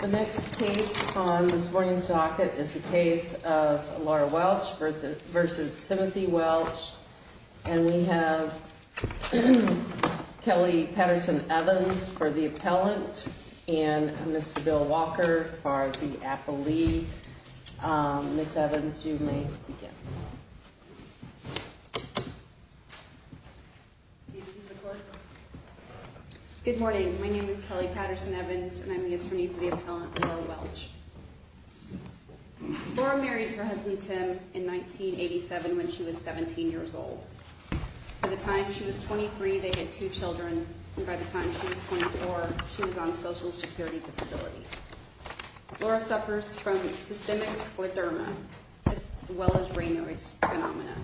The next case on this morning's docket is the case of Laura Welch v. Timothy Welch. And we have Kelly Patterson-Evans for the appellant and Mr. Bill Walker for the appellee. Ms. Evans, you may begin. Good morning. My name is Kelly Patterson-Evans and I'm the attorney for the appellant Laura Welch. Laura married her husband Tim in 1987 when she was 17 years old. By the time she was 23 they had two children and by the time she was 24 she was on social security disability. Laura suffers from systemic scleroderma as well as Raynaud's phenomena.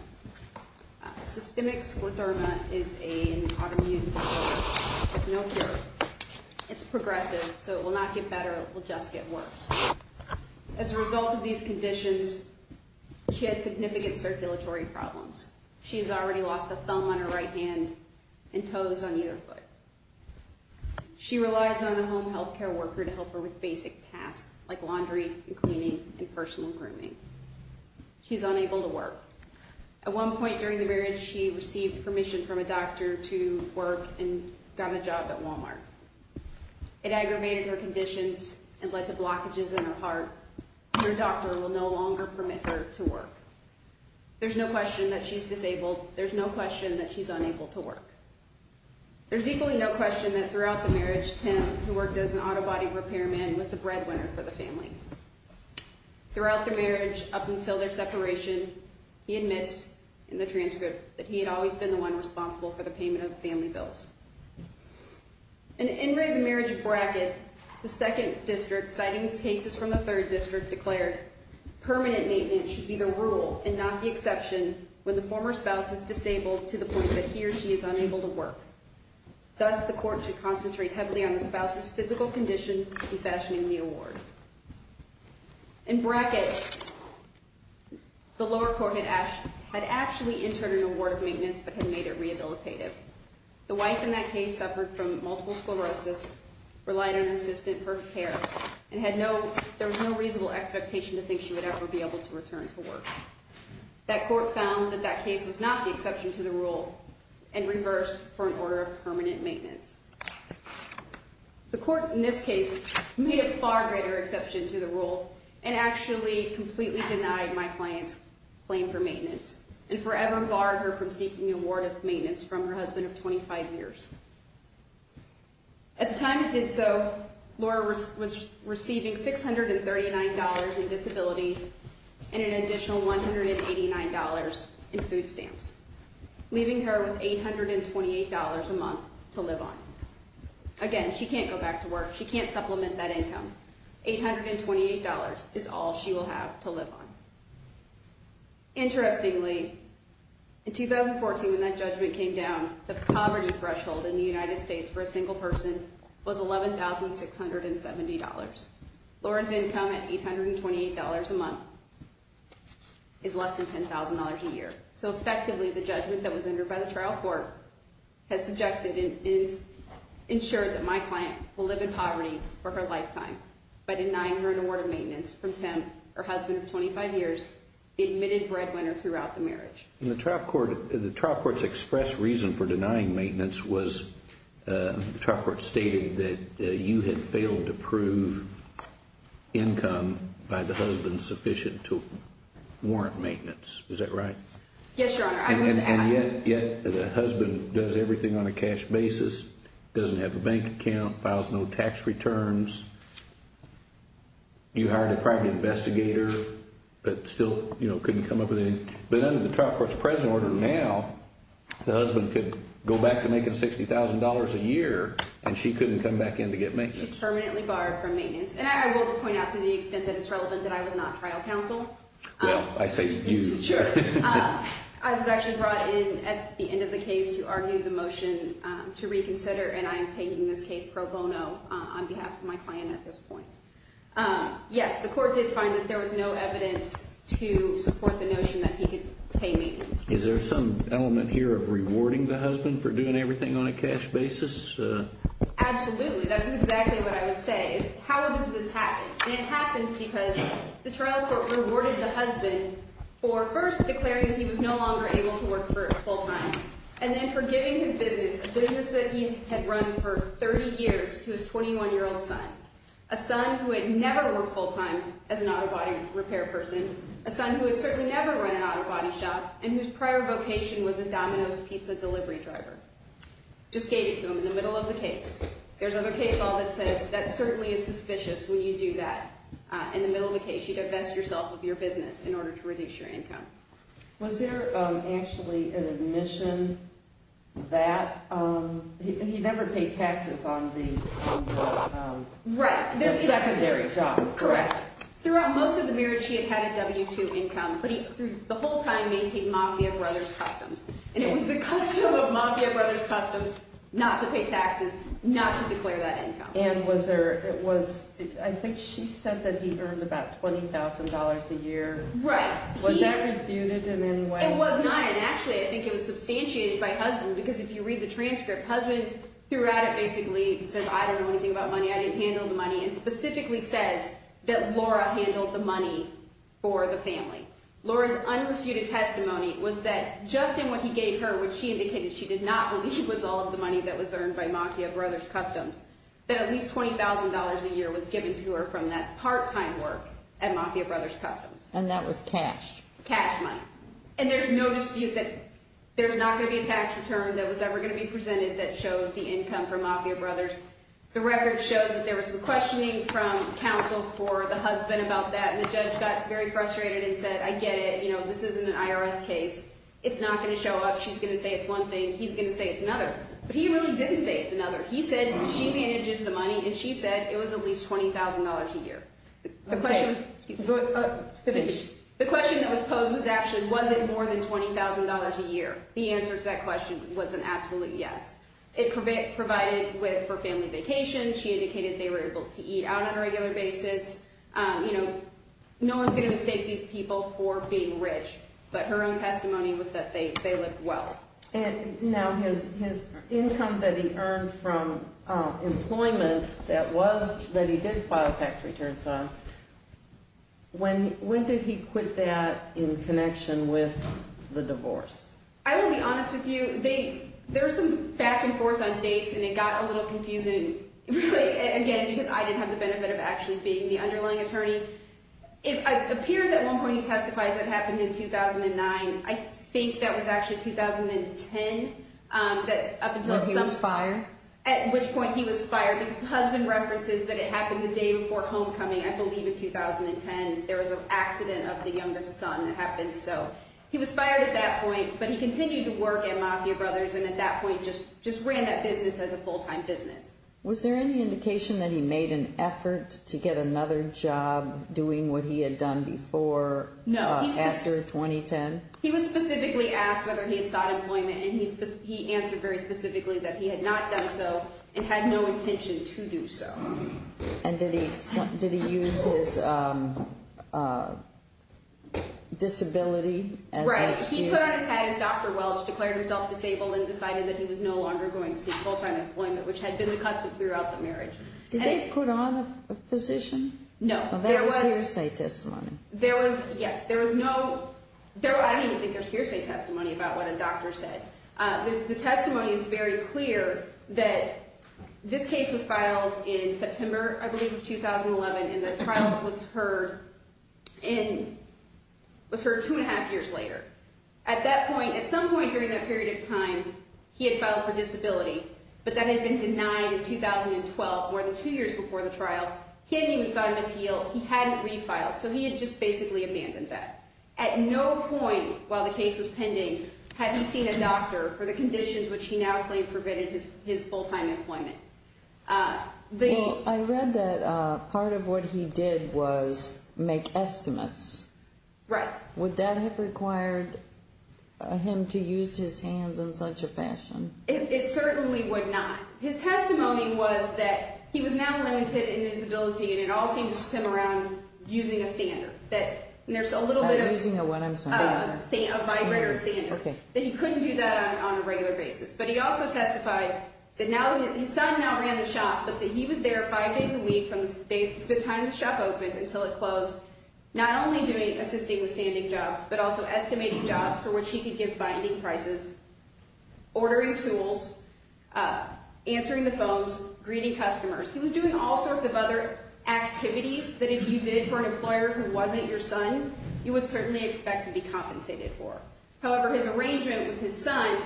Systemic scleroderma is an autoimmune disorder with no cure. It's progressive so it will not get better, it will just get worse. As a result of these conditions she has significant circulatory problems. She has already lost a thumb on her right hand and toes on either foot. She relies on a home health care worker to help her with basic tasks like laundry and cleaning and personal grooming. She's unable to work. At one point during the marriage she received permission from a doctor to work and got a job at Walmart. It aggravated her conditions and led to blockages in her heart. Her doctor will no longer permit her to work. There's no question that she's disabled, there's no question that she's unable to work. There's equally no question that throughout the marriage Tim, who worked as an auto body repairman, was the breadwinner for the family. Throughout the marriage up until their separation he admits in the transcript that he had always been the one responsible for the payment of the family bills. In the marriage of Brackett, the second district, citing cases from the third district, declared permanent maintenance should be the rule and not the exception when the former spouse is disabled to the point that he or she is unable to work. Thus the court should concentrate heavily on the spouse's physical condition in fashioning the award. In Brackett, the lower court had actually entered an award of maintenance but had made it rehabilitative. The wife in that case suffered from multiple sclerosis, relied on an assistant for care, and there was no reasonable expectation to think she would ever be able to return to work. That court found that that case was not the exception to the rule and reversed for an order of permanent maintenance. The court in this case made a far greater exception to the rule and actually completely denied my client's claim for maintenance and forever barred her from seeking the award of maintenance from her husband of 25 years. At the time it did so, Laura was receiving $639 in disability and an additional $189 in food stamps, leaving her with $828 a month to live on. Again, she can't go back to work. She can't supplement that income. $828 is all she will have to live on. Interestingly, in 2014 when that judgment came down, the poverty threshold in the United States for a single person was $11,670. Laura's income at $828 a month is less than $10,000 a year. So effectively the judgment that was entered by the trial court has subjected and ensured that my client will live in poverty for her lifetime by denying her an award of maintenance from Tim, her husband of 25 years, the admitted breadwinner throughout the marriage. The trial court's expressed reason for denying maintenance was the trial court stated that you had failed to prove income by the husband sufficient to warrant maintenance. Is that right? Yes, Your Honor. And yet the husband does everything on a cash basis, doesn't have a bank account, files no tax returns. You hired a private investigator but still couldn't come up with anything. But under the trial court's present order now, the husband could go back to making $60,000 a year and she couldn't come back in to get maintenance. She's permanently barred from maintenance. And I will point out to the extent that it's relevant that I was not trial counsel. Well, I say you. Sure. I was actually brought in at the end of the case to argue the motion to reconsider, and I am taking this case pro bono on behalf of my client at this point. Yes, the court did find that there was no evidence to support the notion that he could pay maintenance. Is there some element here of rewarding the husband for doing everything on a cash basis? Absolutely. That is exactly what I would say. How does this happen? And it happens because the trial court rewarded the husband for first declaring that he was no longer able to work full time, and then for giving his business, a business that he had run for 30 years to his 21-year-old son, a son who had never worked full time as an auto body repair person, a son who had certainly never run an auto body shop, and whose prior vocation was a Domino's pizza delivery driver. Just gave it to him in the middle of the case. There's another case law that says that certainly is suspicious when you do that. In the middle of the case, you divest yourself of your business in order to reduce your income. Was there actually an admission that he never paid taxes on the secondary job? Correct. Throughout most of the marriage, he had had a W-2 income, but he, through the whole time, maintained Mafia Brothers customs. And it was the custom of Mafia Brothers customs not to pay taxes, not to declare that income. And was there, I think she said that he earned about $20,000 a year. Right. Was that refuted in any way? It was not, and actually, I think it was substantiated by husband, because if you read the transcript, husband throughout it basically says, I don't know anything about money, I didn't handle the money, and specifically says that Laura handled the money for the family. Laura's unrefuted testimony was that just in what he gave her, which she indicated she did not believe was all of the money that was earned by Mafia Brothers customs, that at least $20,000 a year was given to her from that part-time work at Mafia Brothers customs. And that was cash? Cash money. And there's no dispute that there's not going to be a tax return that was ever going to be presented that showed the income from Mafia Brothers. The record shows that there was some questioning from counsel for the husband about that, and the judge got very frustrated and said, I get it. You know, this isn't an IRS case. It's not going to show up. She's going to say it's one thing. He's going to say it's another. But he really didn't say it's another. He said she manages the money, and she said it was at least $20,000 a year. The question that was posed was actually, was it more than $20,000 a year? The answer to that question was an absolute yes. It provided for family vacation. She indicated they were able to eat out on a regular basis. You know, no one's going to mistake these people for being rich. But her own testimony was that they lived well. And now his income that he earned from employment that he did file tax returns on, when did he put that in connection with the divorce? I will be honest with you. There was some back and forth on dates, and it got a little confusing, again, because I didn't have the benefit of actually being the underlying attorney. It appears at one point he testifies it happened in 2009. I think that was actually 2010 that up until some point. When he was fired? At which point he was fired. His husband references that it happened the day before homecoming, I believe, in 2010. There was an accident of the younger son that happened. So he was fired at that point, but he continued to work at Mafia Brothers and at that point just ran that business as a full-time business. Was there any indication that he made an effort to get another job doing what he had done before after 2010? No. He was specifically asked whether he had sought employment, and he answered very specifically that he had not done so and had no intention to do so. And did he use his disability as an excuse? Right. He put on his hat as Dr. Welch, declared himself disabled, and decided that he was no longer going to seek full-time employment, which had been the custom throughout the marriage. Did they put on a physician? No. Well, that was hearsay testimony. Yes. I don't even think there's hearsay testimony about what a doctor said. The testimony is very clear that this case was filed in September, I believe, of 2011, and the trial was heard two and a half years later. At that point, at some point during that period of time, he had filed for disability, but that had been denied in 2012, more than two years before the trial. He hadn't even sought an appeal. He hadn't refiled, so he had just basically abandoned that. At no point while the case was pending had he seen a doctor for the conditions which he now claimed prevented his full-time employment. Well, I read that part of what he did was make estimates. Right. Would that have required him to use his hands in such a fashion? It certainly would not. His testimony was that he was now limited in his ability, and it all seemed to spin around using a sander. I'm using a what, I'm sorry? A vibrator sander. Okay. That he couldn't do that on a regular basis. But he also testified that his son now ran the shop, but that he was there five days a week from the time the shop opened until it closed, not only assisting with sanding jobs, but also estimating jobs for which he could give binding prices, ordering tools, answering the phones, greeting customers. He was doing all sorts of other activities that if you did for an employer who wasn't your son, you would certainly expect to be compensated for. However, his arrangement with his son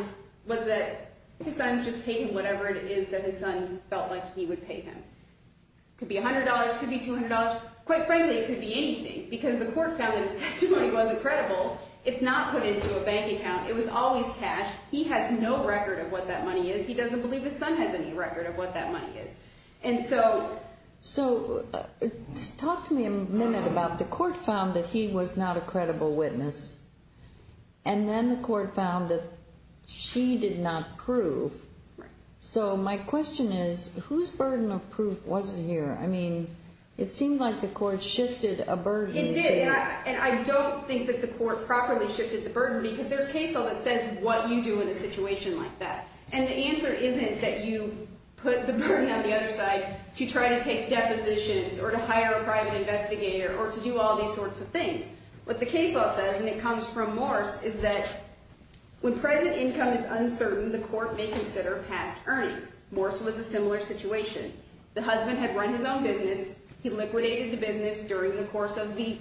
was that his son just paid him whatever it is that his son felt like he would pay him. It could be $100. It could be $200. Quite frankly, it could be anything because the court found that his testimony wasn't credible. It's not put into a bank account. It was always cash. He has no record of what that money is. He doesn't believe his son has any record of what that money is. And so talk to me a minute about the court found that he was not a credible witness, and then the court found that she did not prove. So my question is whose burden of proof was it here? I mean, it seemed like the court shifted a burden. It did, and I don't think that the court properly shifted the burden because there's case law that says what you do in a situation like that, and the answer isn't that you put the burden on the other side to try to take depositions or to hire a private investigator or to do all these sorts of things. What the case law says, and it comes from Morse, is that when present income is uncertain, the court may consider past earnings. Morse was a similar situation. The husband had run his own business. He liquidated the business during the course of the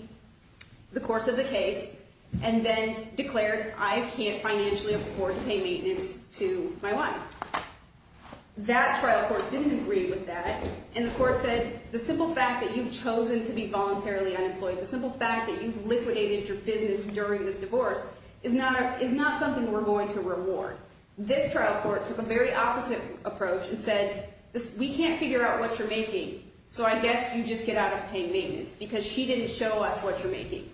case and then declared I can't financially afford to pay maintenance to my wife. That trial court didn't agree with that, and the court said the simple fact that you've chosen to be voluntarily unemployed, the simple fact that you've liquidated your business during this divorce is not something we're going to reward. This trial court took a very opposite approach and said we can't figure out what you're making, so I guess you just get out of paying maintenance because she didn't show us what you're making,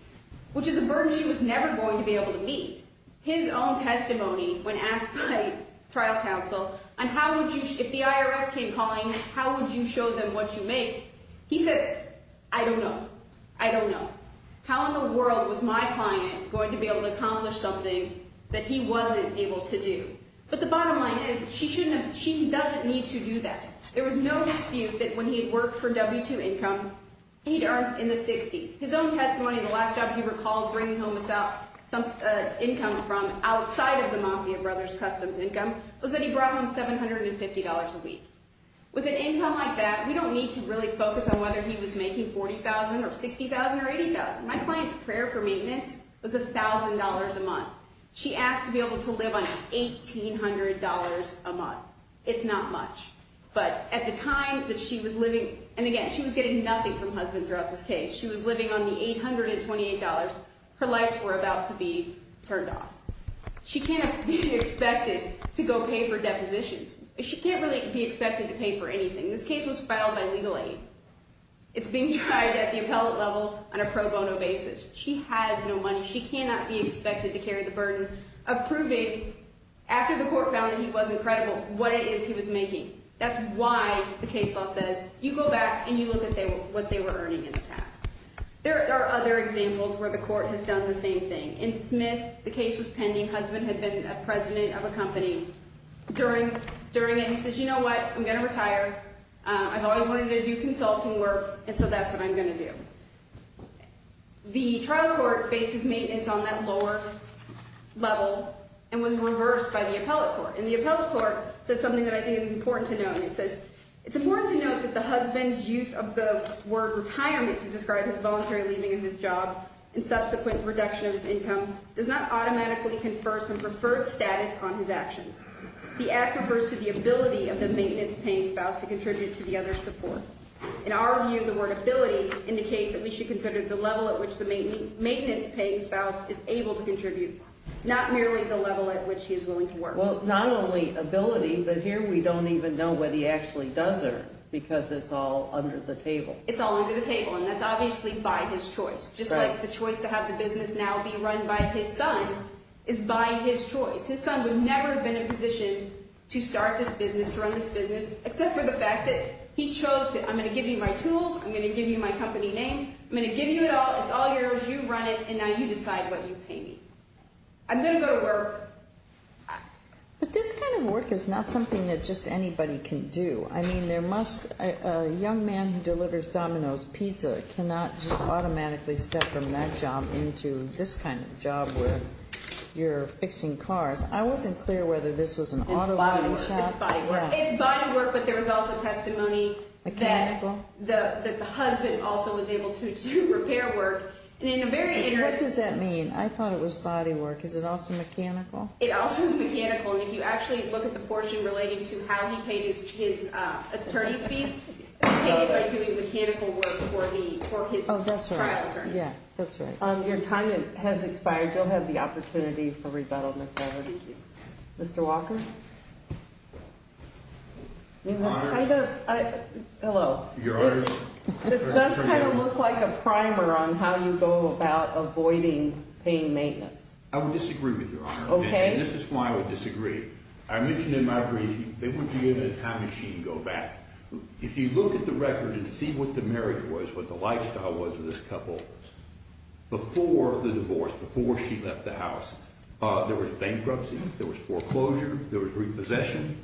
which is a burden she was never going to be able to meet. His own testimony when asked by trial counsel, if the IRS came calling, how would you show them what you make, he said I don't know, I don't know. How in the world was my client going to be able to accomplish something that he wasn't able to do? But the bottom line is she doesn't need to do that. There was no dispute that when he had worked for W-2 Income, he'd earned in the 60s. His own testimony, the last job he recalled bringing home income from outside of the Mafia Brothers Customs Income was that he brought home $750 a week. With an income like that, we don't need to really focus on whether he was making $40,000 or $60,000 or $80,000. My client's prayer for maintenance was $1,000 a month. She asked to be able to live on $1,800 a month. It's not much. But at the time that she was living, and again, she was getting nothing from her husband throughout this case. She was living on the $828. Her lights were about to be turned off. She can't be expected to go pay for depositions. She can't really be expected to pay for anything. This case was filed by legal aid. It's being tried at the appellate level on a pro bono basis. She has no money. She cannot be expected to carry the burden of proving, after the court found that he wasn't credible, what it is he was making. That's why the case law says, you go back and you look at what they were earning in the past. There are other examples where the court has done the same thing. In Smith, the case was pending. Husband had been a president of a company during it, and he says, you know what, I'm going to retire. I've always wanted to do consulting work, and so that's what I'm going to do. The trial court based his maintenance on that lower level and was reversed by the appellate court. And the appellate court said something that I think is important to note, and it says, it's important to note that the husband's use of the word retirement to describe his voluntary leaving of his job and subsequent reduction of his income does not automatically confer some preferred status on his actions. The act refers to the ability of the maintenance-paying spouse to contribute to the other's support. In our view, the word ability indicates that we should consider the level at which the maintenance-paying spouse is able to contribute, not merely the level at which he is willing to work. Well, not only ability, but here we don't even know what he actually does earn because it's all under the table. It's all under the table, and that's obviously by his choice. Just like the choice to have the business now be run by his son is by his choice. His son would never have been in a position to start this business, to run this business, except for the fact that he chose to, I'm going to give you my tools, I'm going to give you my company name, I'm going to give you it all, it's all yours, you run it, and now you decide what you pay me. I'm going to go to work. But this kind of work is not something that just anybody can do. I mean, there must be a young man who delivers Domino's pizza cannot just automatically step from that job into this kind of job where you're fixing cars. I wasn't clear whether this was an auto shop. It's body work. It's body work, but there was also testimony that the husband also was able to do repair work. What does that mean? I thought it was body work. Is it also mechanical? It also is mechanical, and if you actually look at the portion relating to how he paid his attorney's fees, he paid it by doing mechanical work for his trial attorney. Your time has expired. I still have the opportunity for rebuttal, Mr. Walker. Mr. Walker? Your Honor. Hello. Your Honor. This does kind of look like a primer on how you go about avoiding paying maintenance. I would disagree with you, Your Honor. Okay. And this is why I would disagree. I mentioned in my briefing, it would be a time machine to go back. If you look at the record and see what the marriage was, what the lifestyle was of this couple before the divorce, before she left the house, there was bankruptcy, there was foreclosure, there was repossession.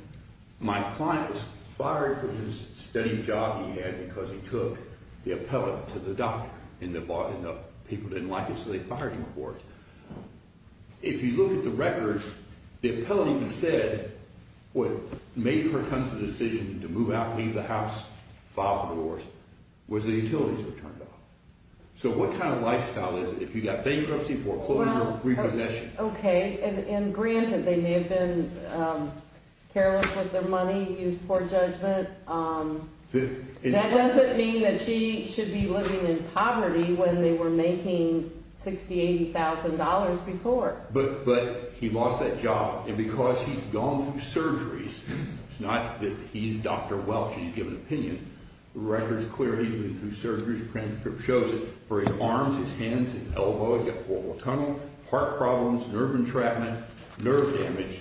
My client was fired for his steady job he had because he took the appellate to the doctor and the people didn't like it, so they fired him for it. If you look at the record, the appellate even said what made her come to the decision to move out, leave the house, file for divorce was the utilities were turned off. So what kind of lifestyle is it if you've got bankruptcy, foreclosure, repossession? Okay. And granted, they may have been careless with their money, used poor judgment. That doesn't mean that she should be living in poverty when they were making $60,000, $80,000 before. But he lost that job. And because he's gone through surgeries, it's not that he's Dr. Welch and he's given opinions. The record is clear. He's been through surgeries. The transcript shows it. For his arms, his hands, his elbows, he had a portal tunnel, heart problems, nerve entrapment, nerve damage.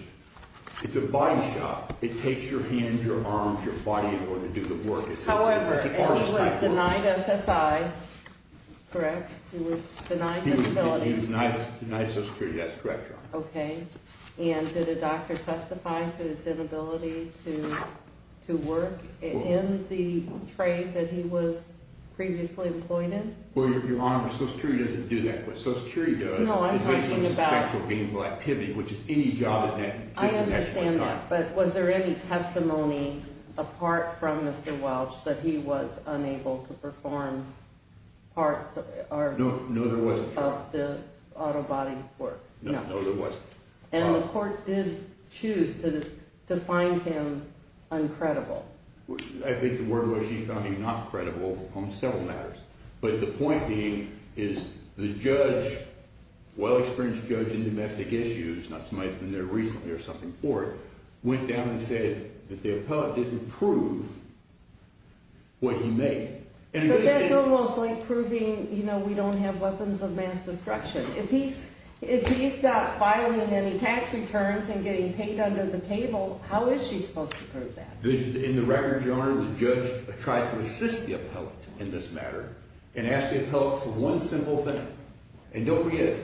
It's a body shot. It takes your hands, your arms, your body in order to do the work. However, and he was denied SSI. He was denied disability. He was denied Social Security. That's correct, Your Honor. Okay. And did a doctor testify to his inability to work in the trade that he was previously employed in? Well, Your Honor, Social Security doesn't do that. What Social Security does is make it a substantial gainful activity, which is any job at that time. I understand that. But was there any testimony apart from Mr. Welch that he was unable to perform parts of the auto body work? No, there wasn't. And the court did choose to find him uncredible? I think the word was he found him not credible on several matters. But the point being is the judge, well-experienced judge in domestic issues, not somebody that's been there recently or something for it, went down and said that the appellate didn't prove what he made. But that's almost like proving, you know, we don't have weapons of mass destruction. If he's not filing any tax returns and getting paid under the table, how is she supposed to prove that? In the record, Your Honor, the judge tried to assist the appellate in this matter and asked the appellate for one simple thing. And don't forget,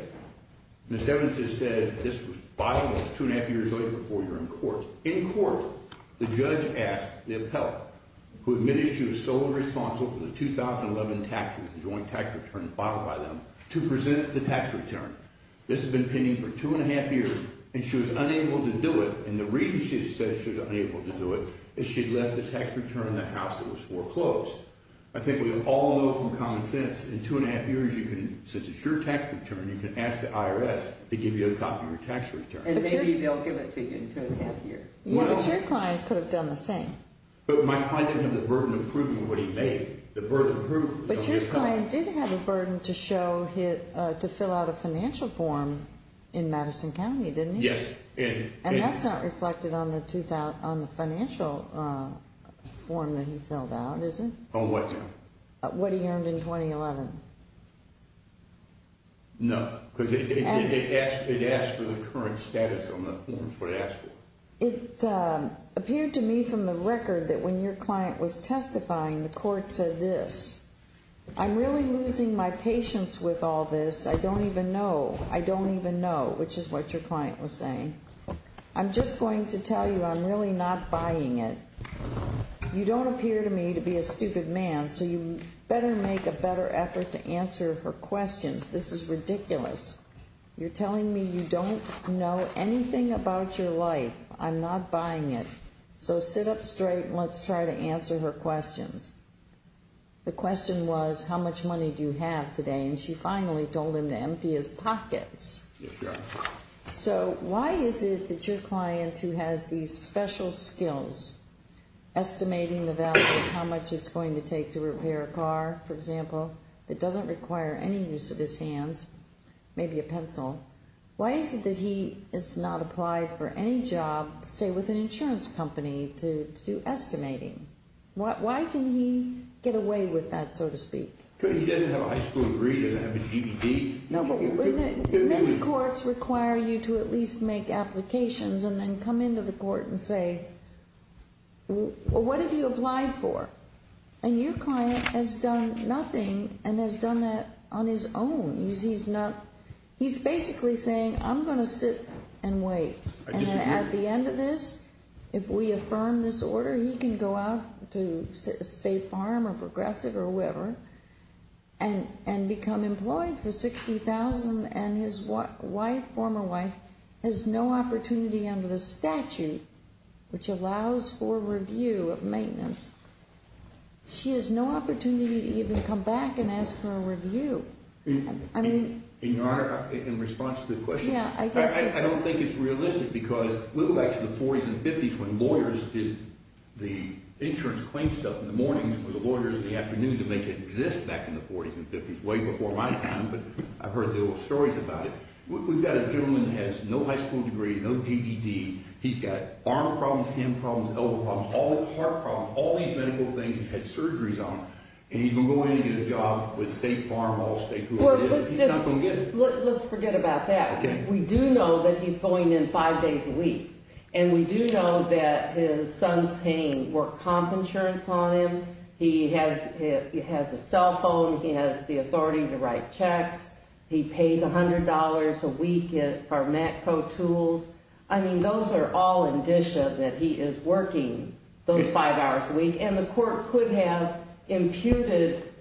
Ms. Evans just said this filing was two and a half years old before you were in court. So in court, the judge asked the appellate, who admitted she was solely responsible for the 2011 taxes, the joint tax return filed by them, to present the tax return. This had been pending for two and a half years, and she was unable to do it. And the reason she said she was unable to do it is she'd left the tax return in the house that was foreclosed. I think we all know from common sense in two and a half years, since it's your tax return, you can ask the IRS to give you a copy of your tax return. And maybe they'll give it to you in two and a half years. Yeah, but your client could have done the same. But my client didn't have the burden of proving what he made. The burden of proving was on your client. But your client did have a burden to fill out a financial form in Madison County, didn't he? Yes. And that's not reflected on the financial form that he filled out, is it? On what now? What he earned in 2011. No, because it asks for the current status on the form, is what it asks for. It appeared to me from the record that when your client was testifying, the court said this, I'm really losing my patience with all this. I don't even know. I don't even know, which is what your client was saying. I'm just going to tell you I'm really not buying it. You don't appear to me to be a stupid man, so you better make a better effort to answer her questions. This is ridiculous. You're telling me you don't know anything about your life. I'm not buying it. So sit up straight and let's try to answer her questions. The question was, how much money do you have today? And she finally told him to empty his pockets. Yes, ma'am. So why is it that your client, who has these special skills, estimating the value of how much it's going to take to repair a car, for example, that doesn't require any use of his hands, maybe a pencil, why is it that he has not applied for any job, say with an insurance company, to do estimating? Why can he get away with that, so to speak? Because he doesn't have a high school degree. He doesn't have a GED. No, but many courts require you to at least make applications and then come into the court and say, well, what have you applied for? And your client has done nothing and has done that on his own. He's basically saying, I'm going to sit and wait. I disagree. And then at the end of this, if we affirm this order, he can go out to State Farm or Progressive or wherever and become employed for $60,000 and his wife, former wife, has no opportunity under the statute, which allows for review of maintenance, she has no opportunity to even come back and ask for a review. In response to the question, I don't think it's realistic because we go back to the 40s and 50s when lawyers did the insurance claim stuff in the mornings and the lawyers in the afternoon to make it exist back in the 40s and 50s, way before my time, but I've heard the old stories about it. We've got a gentleman that has no high school degree, no GED. He's got arm problems, hand problems, elbow problems, heart problems, all these medical things. He's had surgeries on. And he's going to go in and get a job with State Farm or State whoever it is, and he's not going to get it. Let's forget about that. We do know that he's going in five days a week, and we do know that his son's paying work comp insurance on him. He has a cell phone. He has the authority to write checks. He pays $100 a week for MACPRO tools. I mean, those are all indicia that he is working those five hours a week, and the court could have imputed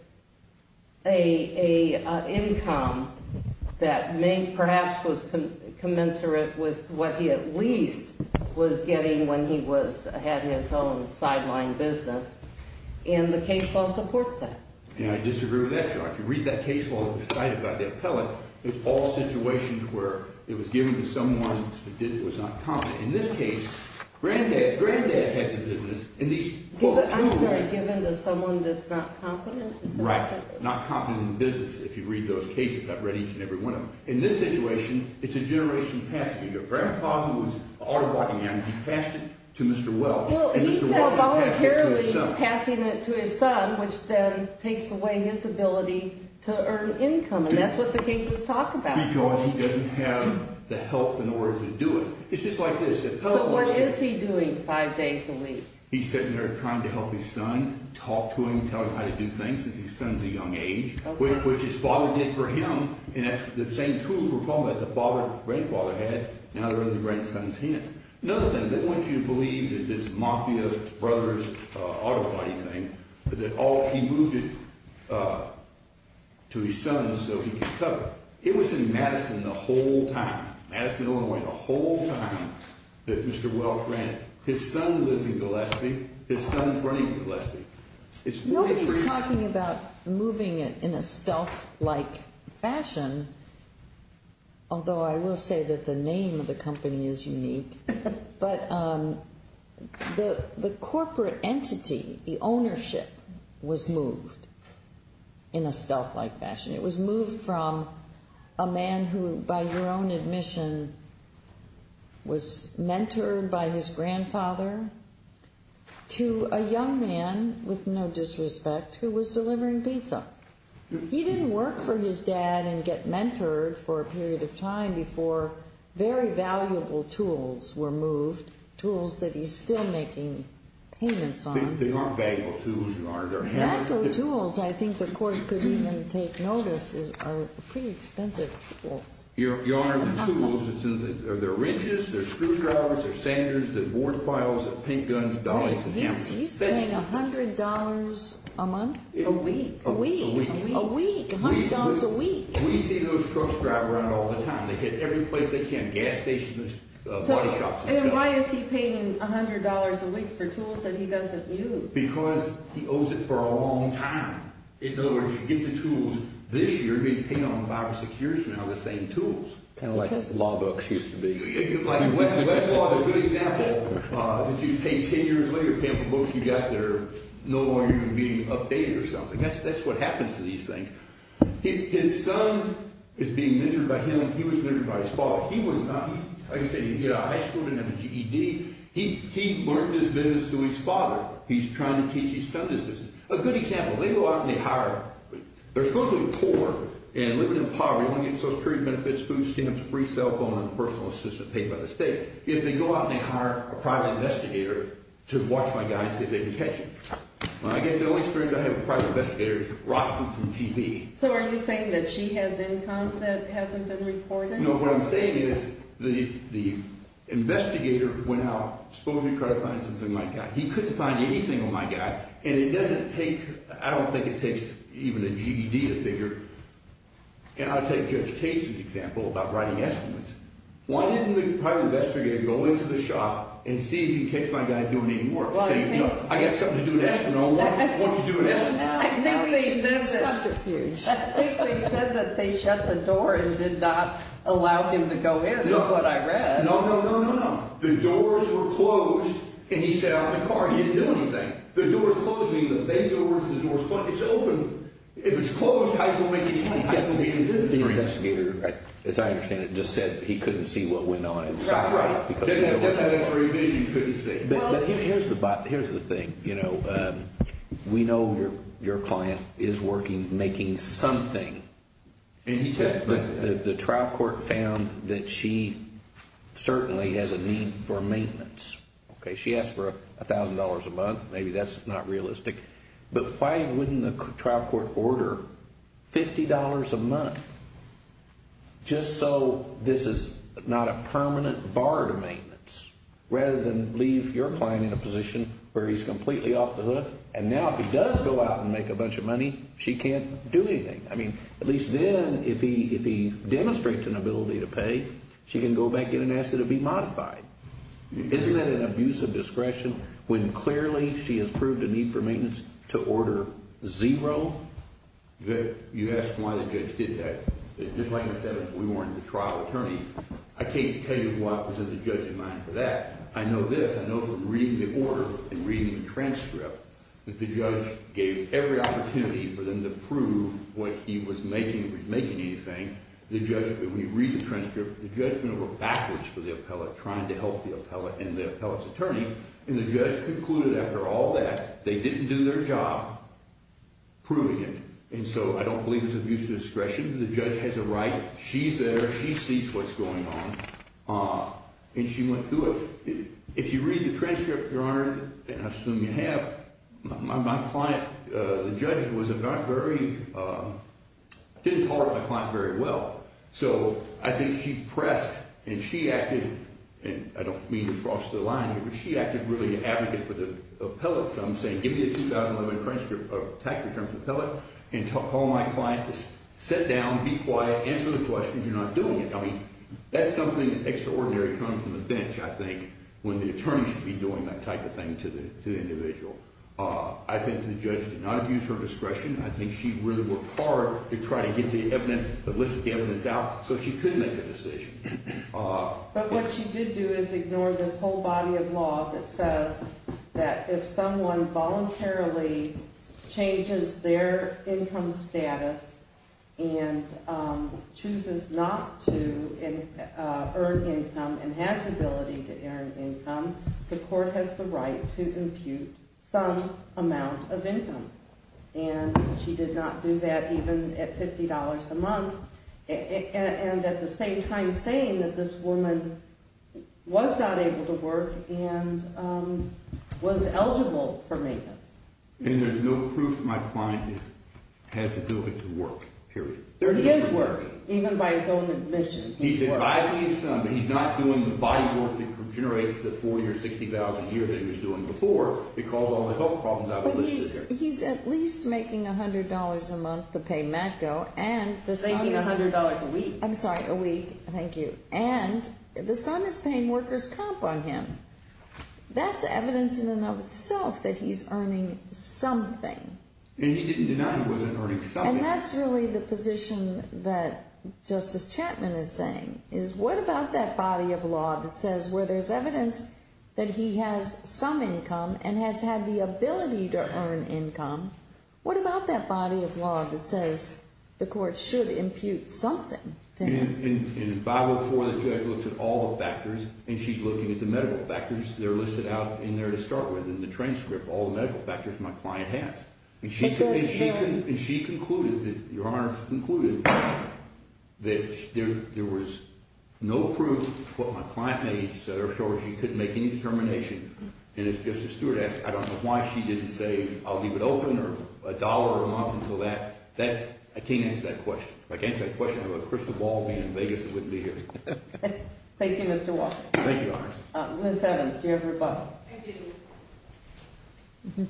an income that may perhaps was commensurate with what he at least was getting when he had his own sideline business, and the case law supports that. And I disagree with that, John. If you read that case law that was cited by the appellate, it's all situations where it was given to someone who was not competent. In this case, Granddad had the business, and these quote, I'm sorry, given to someone that's not competent. Right, not competent in business, if you read those cases. I've read each and every one of them. In this situation, it's a generation past either. Grandpa, who was an auto body man, he passed it to Mr. Wells, and Mr. Wells passed it to his son. Well, he's now voluntarily passing it to his son, which then takes away his ability to earn income, and that's what the cases talk about. Because he doesn't have the health in order to do it. It's just like this. So what is he doing five days a week? He's sitting there trying to help his son, talk to him, tell him how to do things since his son's a young age, which his father did for him. And that's the same tools we're talking about that the father, grandfather had, now they're in the grandson's hands. Another thing, I want you to believe that this Mafia Brothers auto body thing, that he moved it to his son so he could cover it. It was in Madison the whole time. Madison owned it the whole time that Mr. Wells ran it. His son lives in Gillespie. His son's running Gillespie. Nobody's talking about moving it in a stealth-like fashion, although I will say that the name of the company is unique. But the corporate entity, the ownership, was moved in a stealth-like fashion. It was moved from a man who, by your own admission, was mentored by his grandfather to a young man, with no disrespect, who was delivering pizza. He didn't work for his dad and get mentored for a period of time before very valuable tools were moved, tools that he's still making payments on. They aren't valuable tools. Valuable tools, I think the court could even take notice, are pretty expensive tools. Your Honor, the tools, they're wrenches, they're screwdrivers, they're sanders, they're board piles, they're paint guns, dollies, and hamsters. He's paying $100 a month? A week. A week. A week. $100 a week. We see those crooks drive around all the time. They hit every place they can, gas stations, body shops. And why is he paying $100 a week for tools that he doesn't use? Because he owes it for a long time. In other words, you get the tools this year, you're being paid on them five or six years from now, the same tools. Kind of like the law books used to be. Like Westlaw is a good example. If you pay 10 years later to pay for the books you got there, no longer are you being updated or something. That's what happens to these things. His son is being mentored by him, and he was mentored by his father. He was not, like I said, he had a high school and had a GED. He learned this business through his father. He's trying to teach his son this business. A good example, they go out and they hire, they're supposedly poor and living in poverty, only getting Social Security benefits, food stamps, a free cell phone, and a personal assistant paid by the state. If they go out and they hire a private investigator to watch my guy and see if they can catch him. I guess the only experience I have with private investigators is watching from TV. So are you saying that she has income that hasn't been reported? No, what I'm saying is the investigator went out, supposedly trying to find something like that. He couldn't find anything on my guy, and it doesn't take, I don't think it takes even a GED to figure. And I'll take Judge Cates' example about writing estimates. Why didn't the private investigator go into the shop and see if he could catch my guy doing any work, saying, you know, I got something to do in Eskimo, why don't you do it in Eskimo? I think they said that they shut the door and did not allow him to go in is what I read. No, no, no, no, no. The doors were closed, and he sat out in the car. He didn't do anything. The doors closed. I mean, the big doors, the doors closed. It's open. If it's closed, how are you going to make a complaint? How are you going to make a business case? The investigator, as I understand it, just said that he couldn't see what went on inside. Right, right. He couldn't see. But here's the thing. You know, we know your client is working, making something. And he testified. The trial court found that she certainly has a need for maintenance. Okay, she asked for $1,000 a month. Maybe that's not realistic. But why wouldn't the trial court order $50 a month just so this is not a permanent bar to maintenance, rather than leave your client in a position where he's completely off the hook? And now if he does go out and make a bunch of money, she can't do anything. I mean, at least then if he demonstrates an ability to pay, she can go back in and ask that it be modified. Isn't that an abuse of discretion when clearly she has proved a need for maintenance to order zero? You asked why the judge did that. Just like I said, we weren't the trial attorneys. I can't tell you what was in the judge's mind for that. I know this. I know from reading the order and reading the transcript that the judge gave every opportunity for them to prove what he was making or making anything. The judge, when you read the transcript, the judge went over backwards for the appellate, trying to help the appellate and the appellate's attorney. And the judge concluded after all that they didn't do their job proving it. And so I don't believe it's abuse of discretion. The judge has a right. She's there. She sees what's going on. And she went through it. If you read the transcript, Your Honor, and I assume you have, my client, the judge, was about very, didn't tolerate my client very well. So I think she pressed and she acted, and I don't mean to cross the line here, but she acted really an advocate for the appellate. So I'm saying give me a 2011 tax return for the appellate and tell my client to sit down, be quiet, answer the questions. You're not doing it. I mean, that's something that's extraordinary coming from the bench, I think, when the attorney should be doing that type of thing to the individual. I think the judge did not abuse her discretion. I think she really worked hard to try to get the evidence, elicit the evidence out so she could make the decision. But what she did do is ignore this whole body of law that says that if someone voluntarily changes their income status and chooses not to earn income and has the ability to earn income, the court has the right to impute some amount of income. And she did not do that even at $50 a month, and at the same time saying that this woman was not able to work and was eligible for maintenance. And there's no proof my client has the ability to work, period. He is working, even by his own admission. He's advising his son that he's not doing the body work that generates the $40,000 or $60,000 a year that he was doing before because of all the health problems I've elicited there. But he's at least making $100 a month to pay MATCO, and the son is... Making $100 a week. I'm sorry, a week. Thank you. And the son is paying workers' comp on him. That's evidence in and of itself that he's earning something. And he didn't deny he wasn't earning something. And that's really the position that Justice Chapman is saying, is what about that body of law that says where there's evidence that he has some income and has had the ability to earn income, what about that body of law that says the court should impute something to him? And in 504, the judge looks at all the factors, and she's looking at the medical factors. They're listed out in there to start with in the transcript, all the medical factors my client has. And she concluded, Your Honor, concluded that there was no proof of what my client made to show that she couldn't make any determination. And as Justice Stewart asked, I don't know why she didn't say, I'll leave it open or $1 a month until that. I can't answer that question. If I could answer that question, I'd have a crystal ball being in Vegas that wouldn't be here. Thank you, Mr. Walsh. Thank you, Your Honor. Ms. Evans, do you have a rebuttal? I do.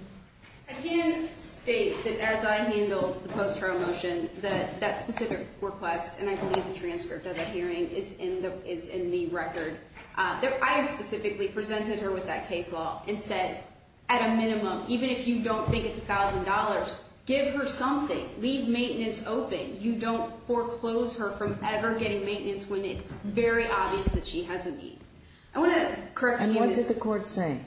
I can state that as I handled the post-trial motion, that that specific request, and I believe the transcript of the hearing, is in the record. I specifically presented her with that case law and said, at a minimum, even if you don't think it's $1,000, give her something. Leave maintenance open. You don't foreclose her from ever getting maintenance when it's very obvious that she has a need. And what did the court say?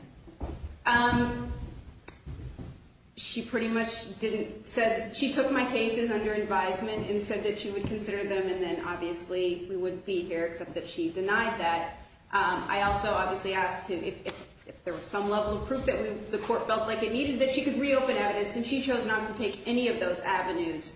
She pretty much didn't say that. She took my cases under advisement and said that she would consider them and then, obviously, we wouldn't be here, except that she denied that. I also obviously asked if there was some level of proof that the court felt like it needed, that she could reopen evidence, and she chose not to take any of those avenues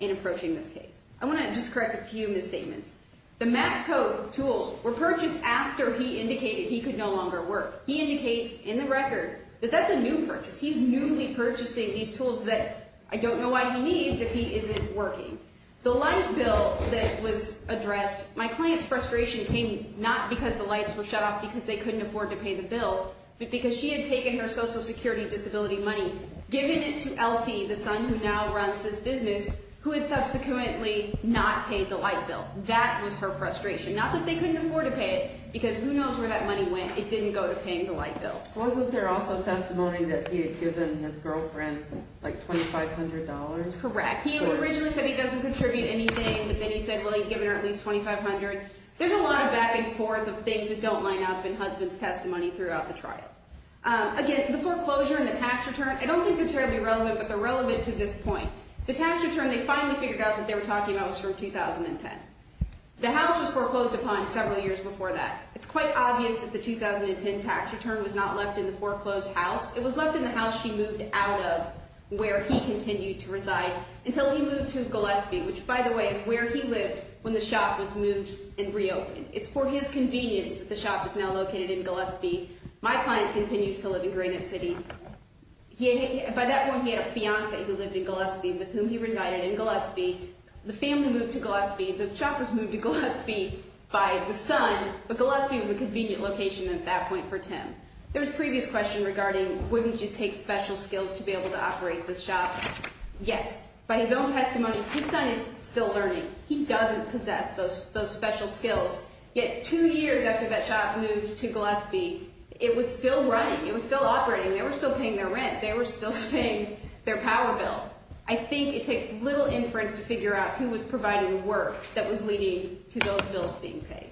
in approaching this case. I want to just correct a few misstatements. The math code tools were purchased after he indicated he could no longer work. He indicates in the record that that's a new purchase. He's newly purchasing these tools that I don't know why he needs if he isn't working. The light bill that was addressed, my client's frustration came not because the lights were shut off because they couldn't afford to pay the bill, but because she had taken her Social Security disability money, given it to LT, the son who now runs this business, who had subsequently not paid the light bill. That was her frustration, not that they couldn't afford to pay it because who knows where that money went. It didn't go to paying the light bill. Wasn't there also testimony that he had given his girlfriend like $2,500? Correct. He originally said he doesn't contribute anything, but then he said, well, he'd given her at least $2,500. There's a lot of back and forth of things that don't line up in husband's testimony throughout the trial. Again, the foreclosure and the tax return, I don't think they're terribly relevant, but they're relevant to this point. The tax return they finally figured out that they were talking about was from 2010. The house was foreclosed upon several years before that. It's quite obvious that the 2010 tax return was not left in the foreclosed house. It was left in the house she moved out of where he continued to reside until he moved to Gillespie, which, by the way, is where he lived when the shop was moved and reopened. It's for his convenience that the shop is now located in Gillespie. My client continues to live in Granite City. By that point, he had a fiancée who lived in Gillespie with whom he resided in Gillespie. The family moved to Gillespie. The shop was moved to Gillespie by the son, but Gillespie was a convenient location at that point for Tim. There was a previous question regarding wouldn't you take special skills to be able to operate this shop? Yes. By his own testimony, his son is still learning. He doesn't possess those special skills. Yet two years after that shop moved to Gillespie, it was still running. It was still operating. They were still paying their rent. They were still paying their power bill. I think it takes little inference to figure out who was providing the work that was leading to those bills being paid.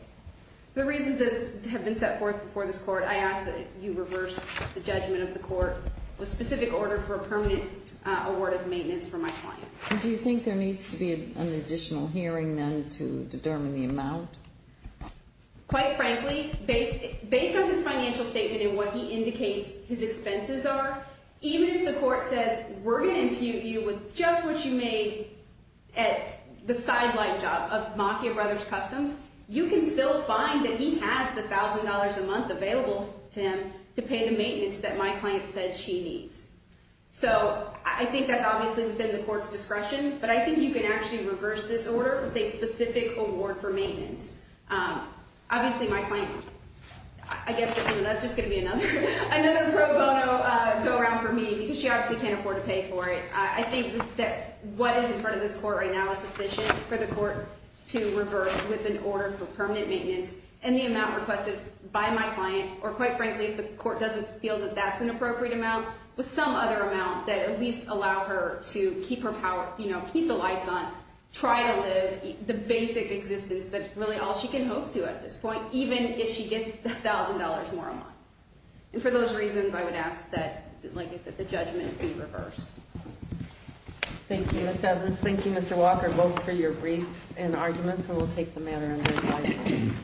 The reasons this has been set forth before this court, I ask that you reverse the judgment of the court with specific order for a permanent award of maintenance for my client. Do you think there needs to be an additional hearing, then, to determine the amount? Quite frankly, based on his financial statement and what he indicates his expenses are, even if the court says we're going to impute you with just what you made at the sideline job of Mafia Brothers Customs, you can still find that he has the $1,000 a month available to him to pay the maintenance that my client said she needs. I think that's obviously within the court's discretion, but I think you can actually reverse this order with a specific award for maintenance. Obviously, my client, I guess that's just going to be another pro bono go-around for me because she obviously can't afford to pay for it. I think that what is in front of this court right now is sufficient for the court to reverse with an order for permanent maintenance, and the amount requested by my client, or quite frankly, if the court doesn't feel that that's an appropriate amount, with some other amount that at least allow her to keep her power, keep the lights on, try to live the basic existence that's really all she can hope to at this point, even if she gets the $1,000 more a month. And for those reasons, I would ask that, like I said, the judgment be reversed. Thank you, Ms. Evans. Thank you, Mr. Walker. Vote for your brief and arguments, and we'll take the matter under investigation.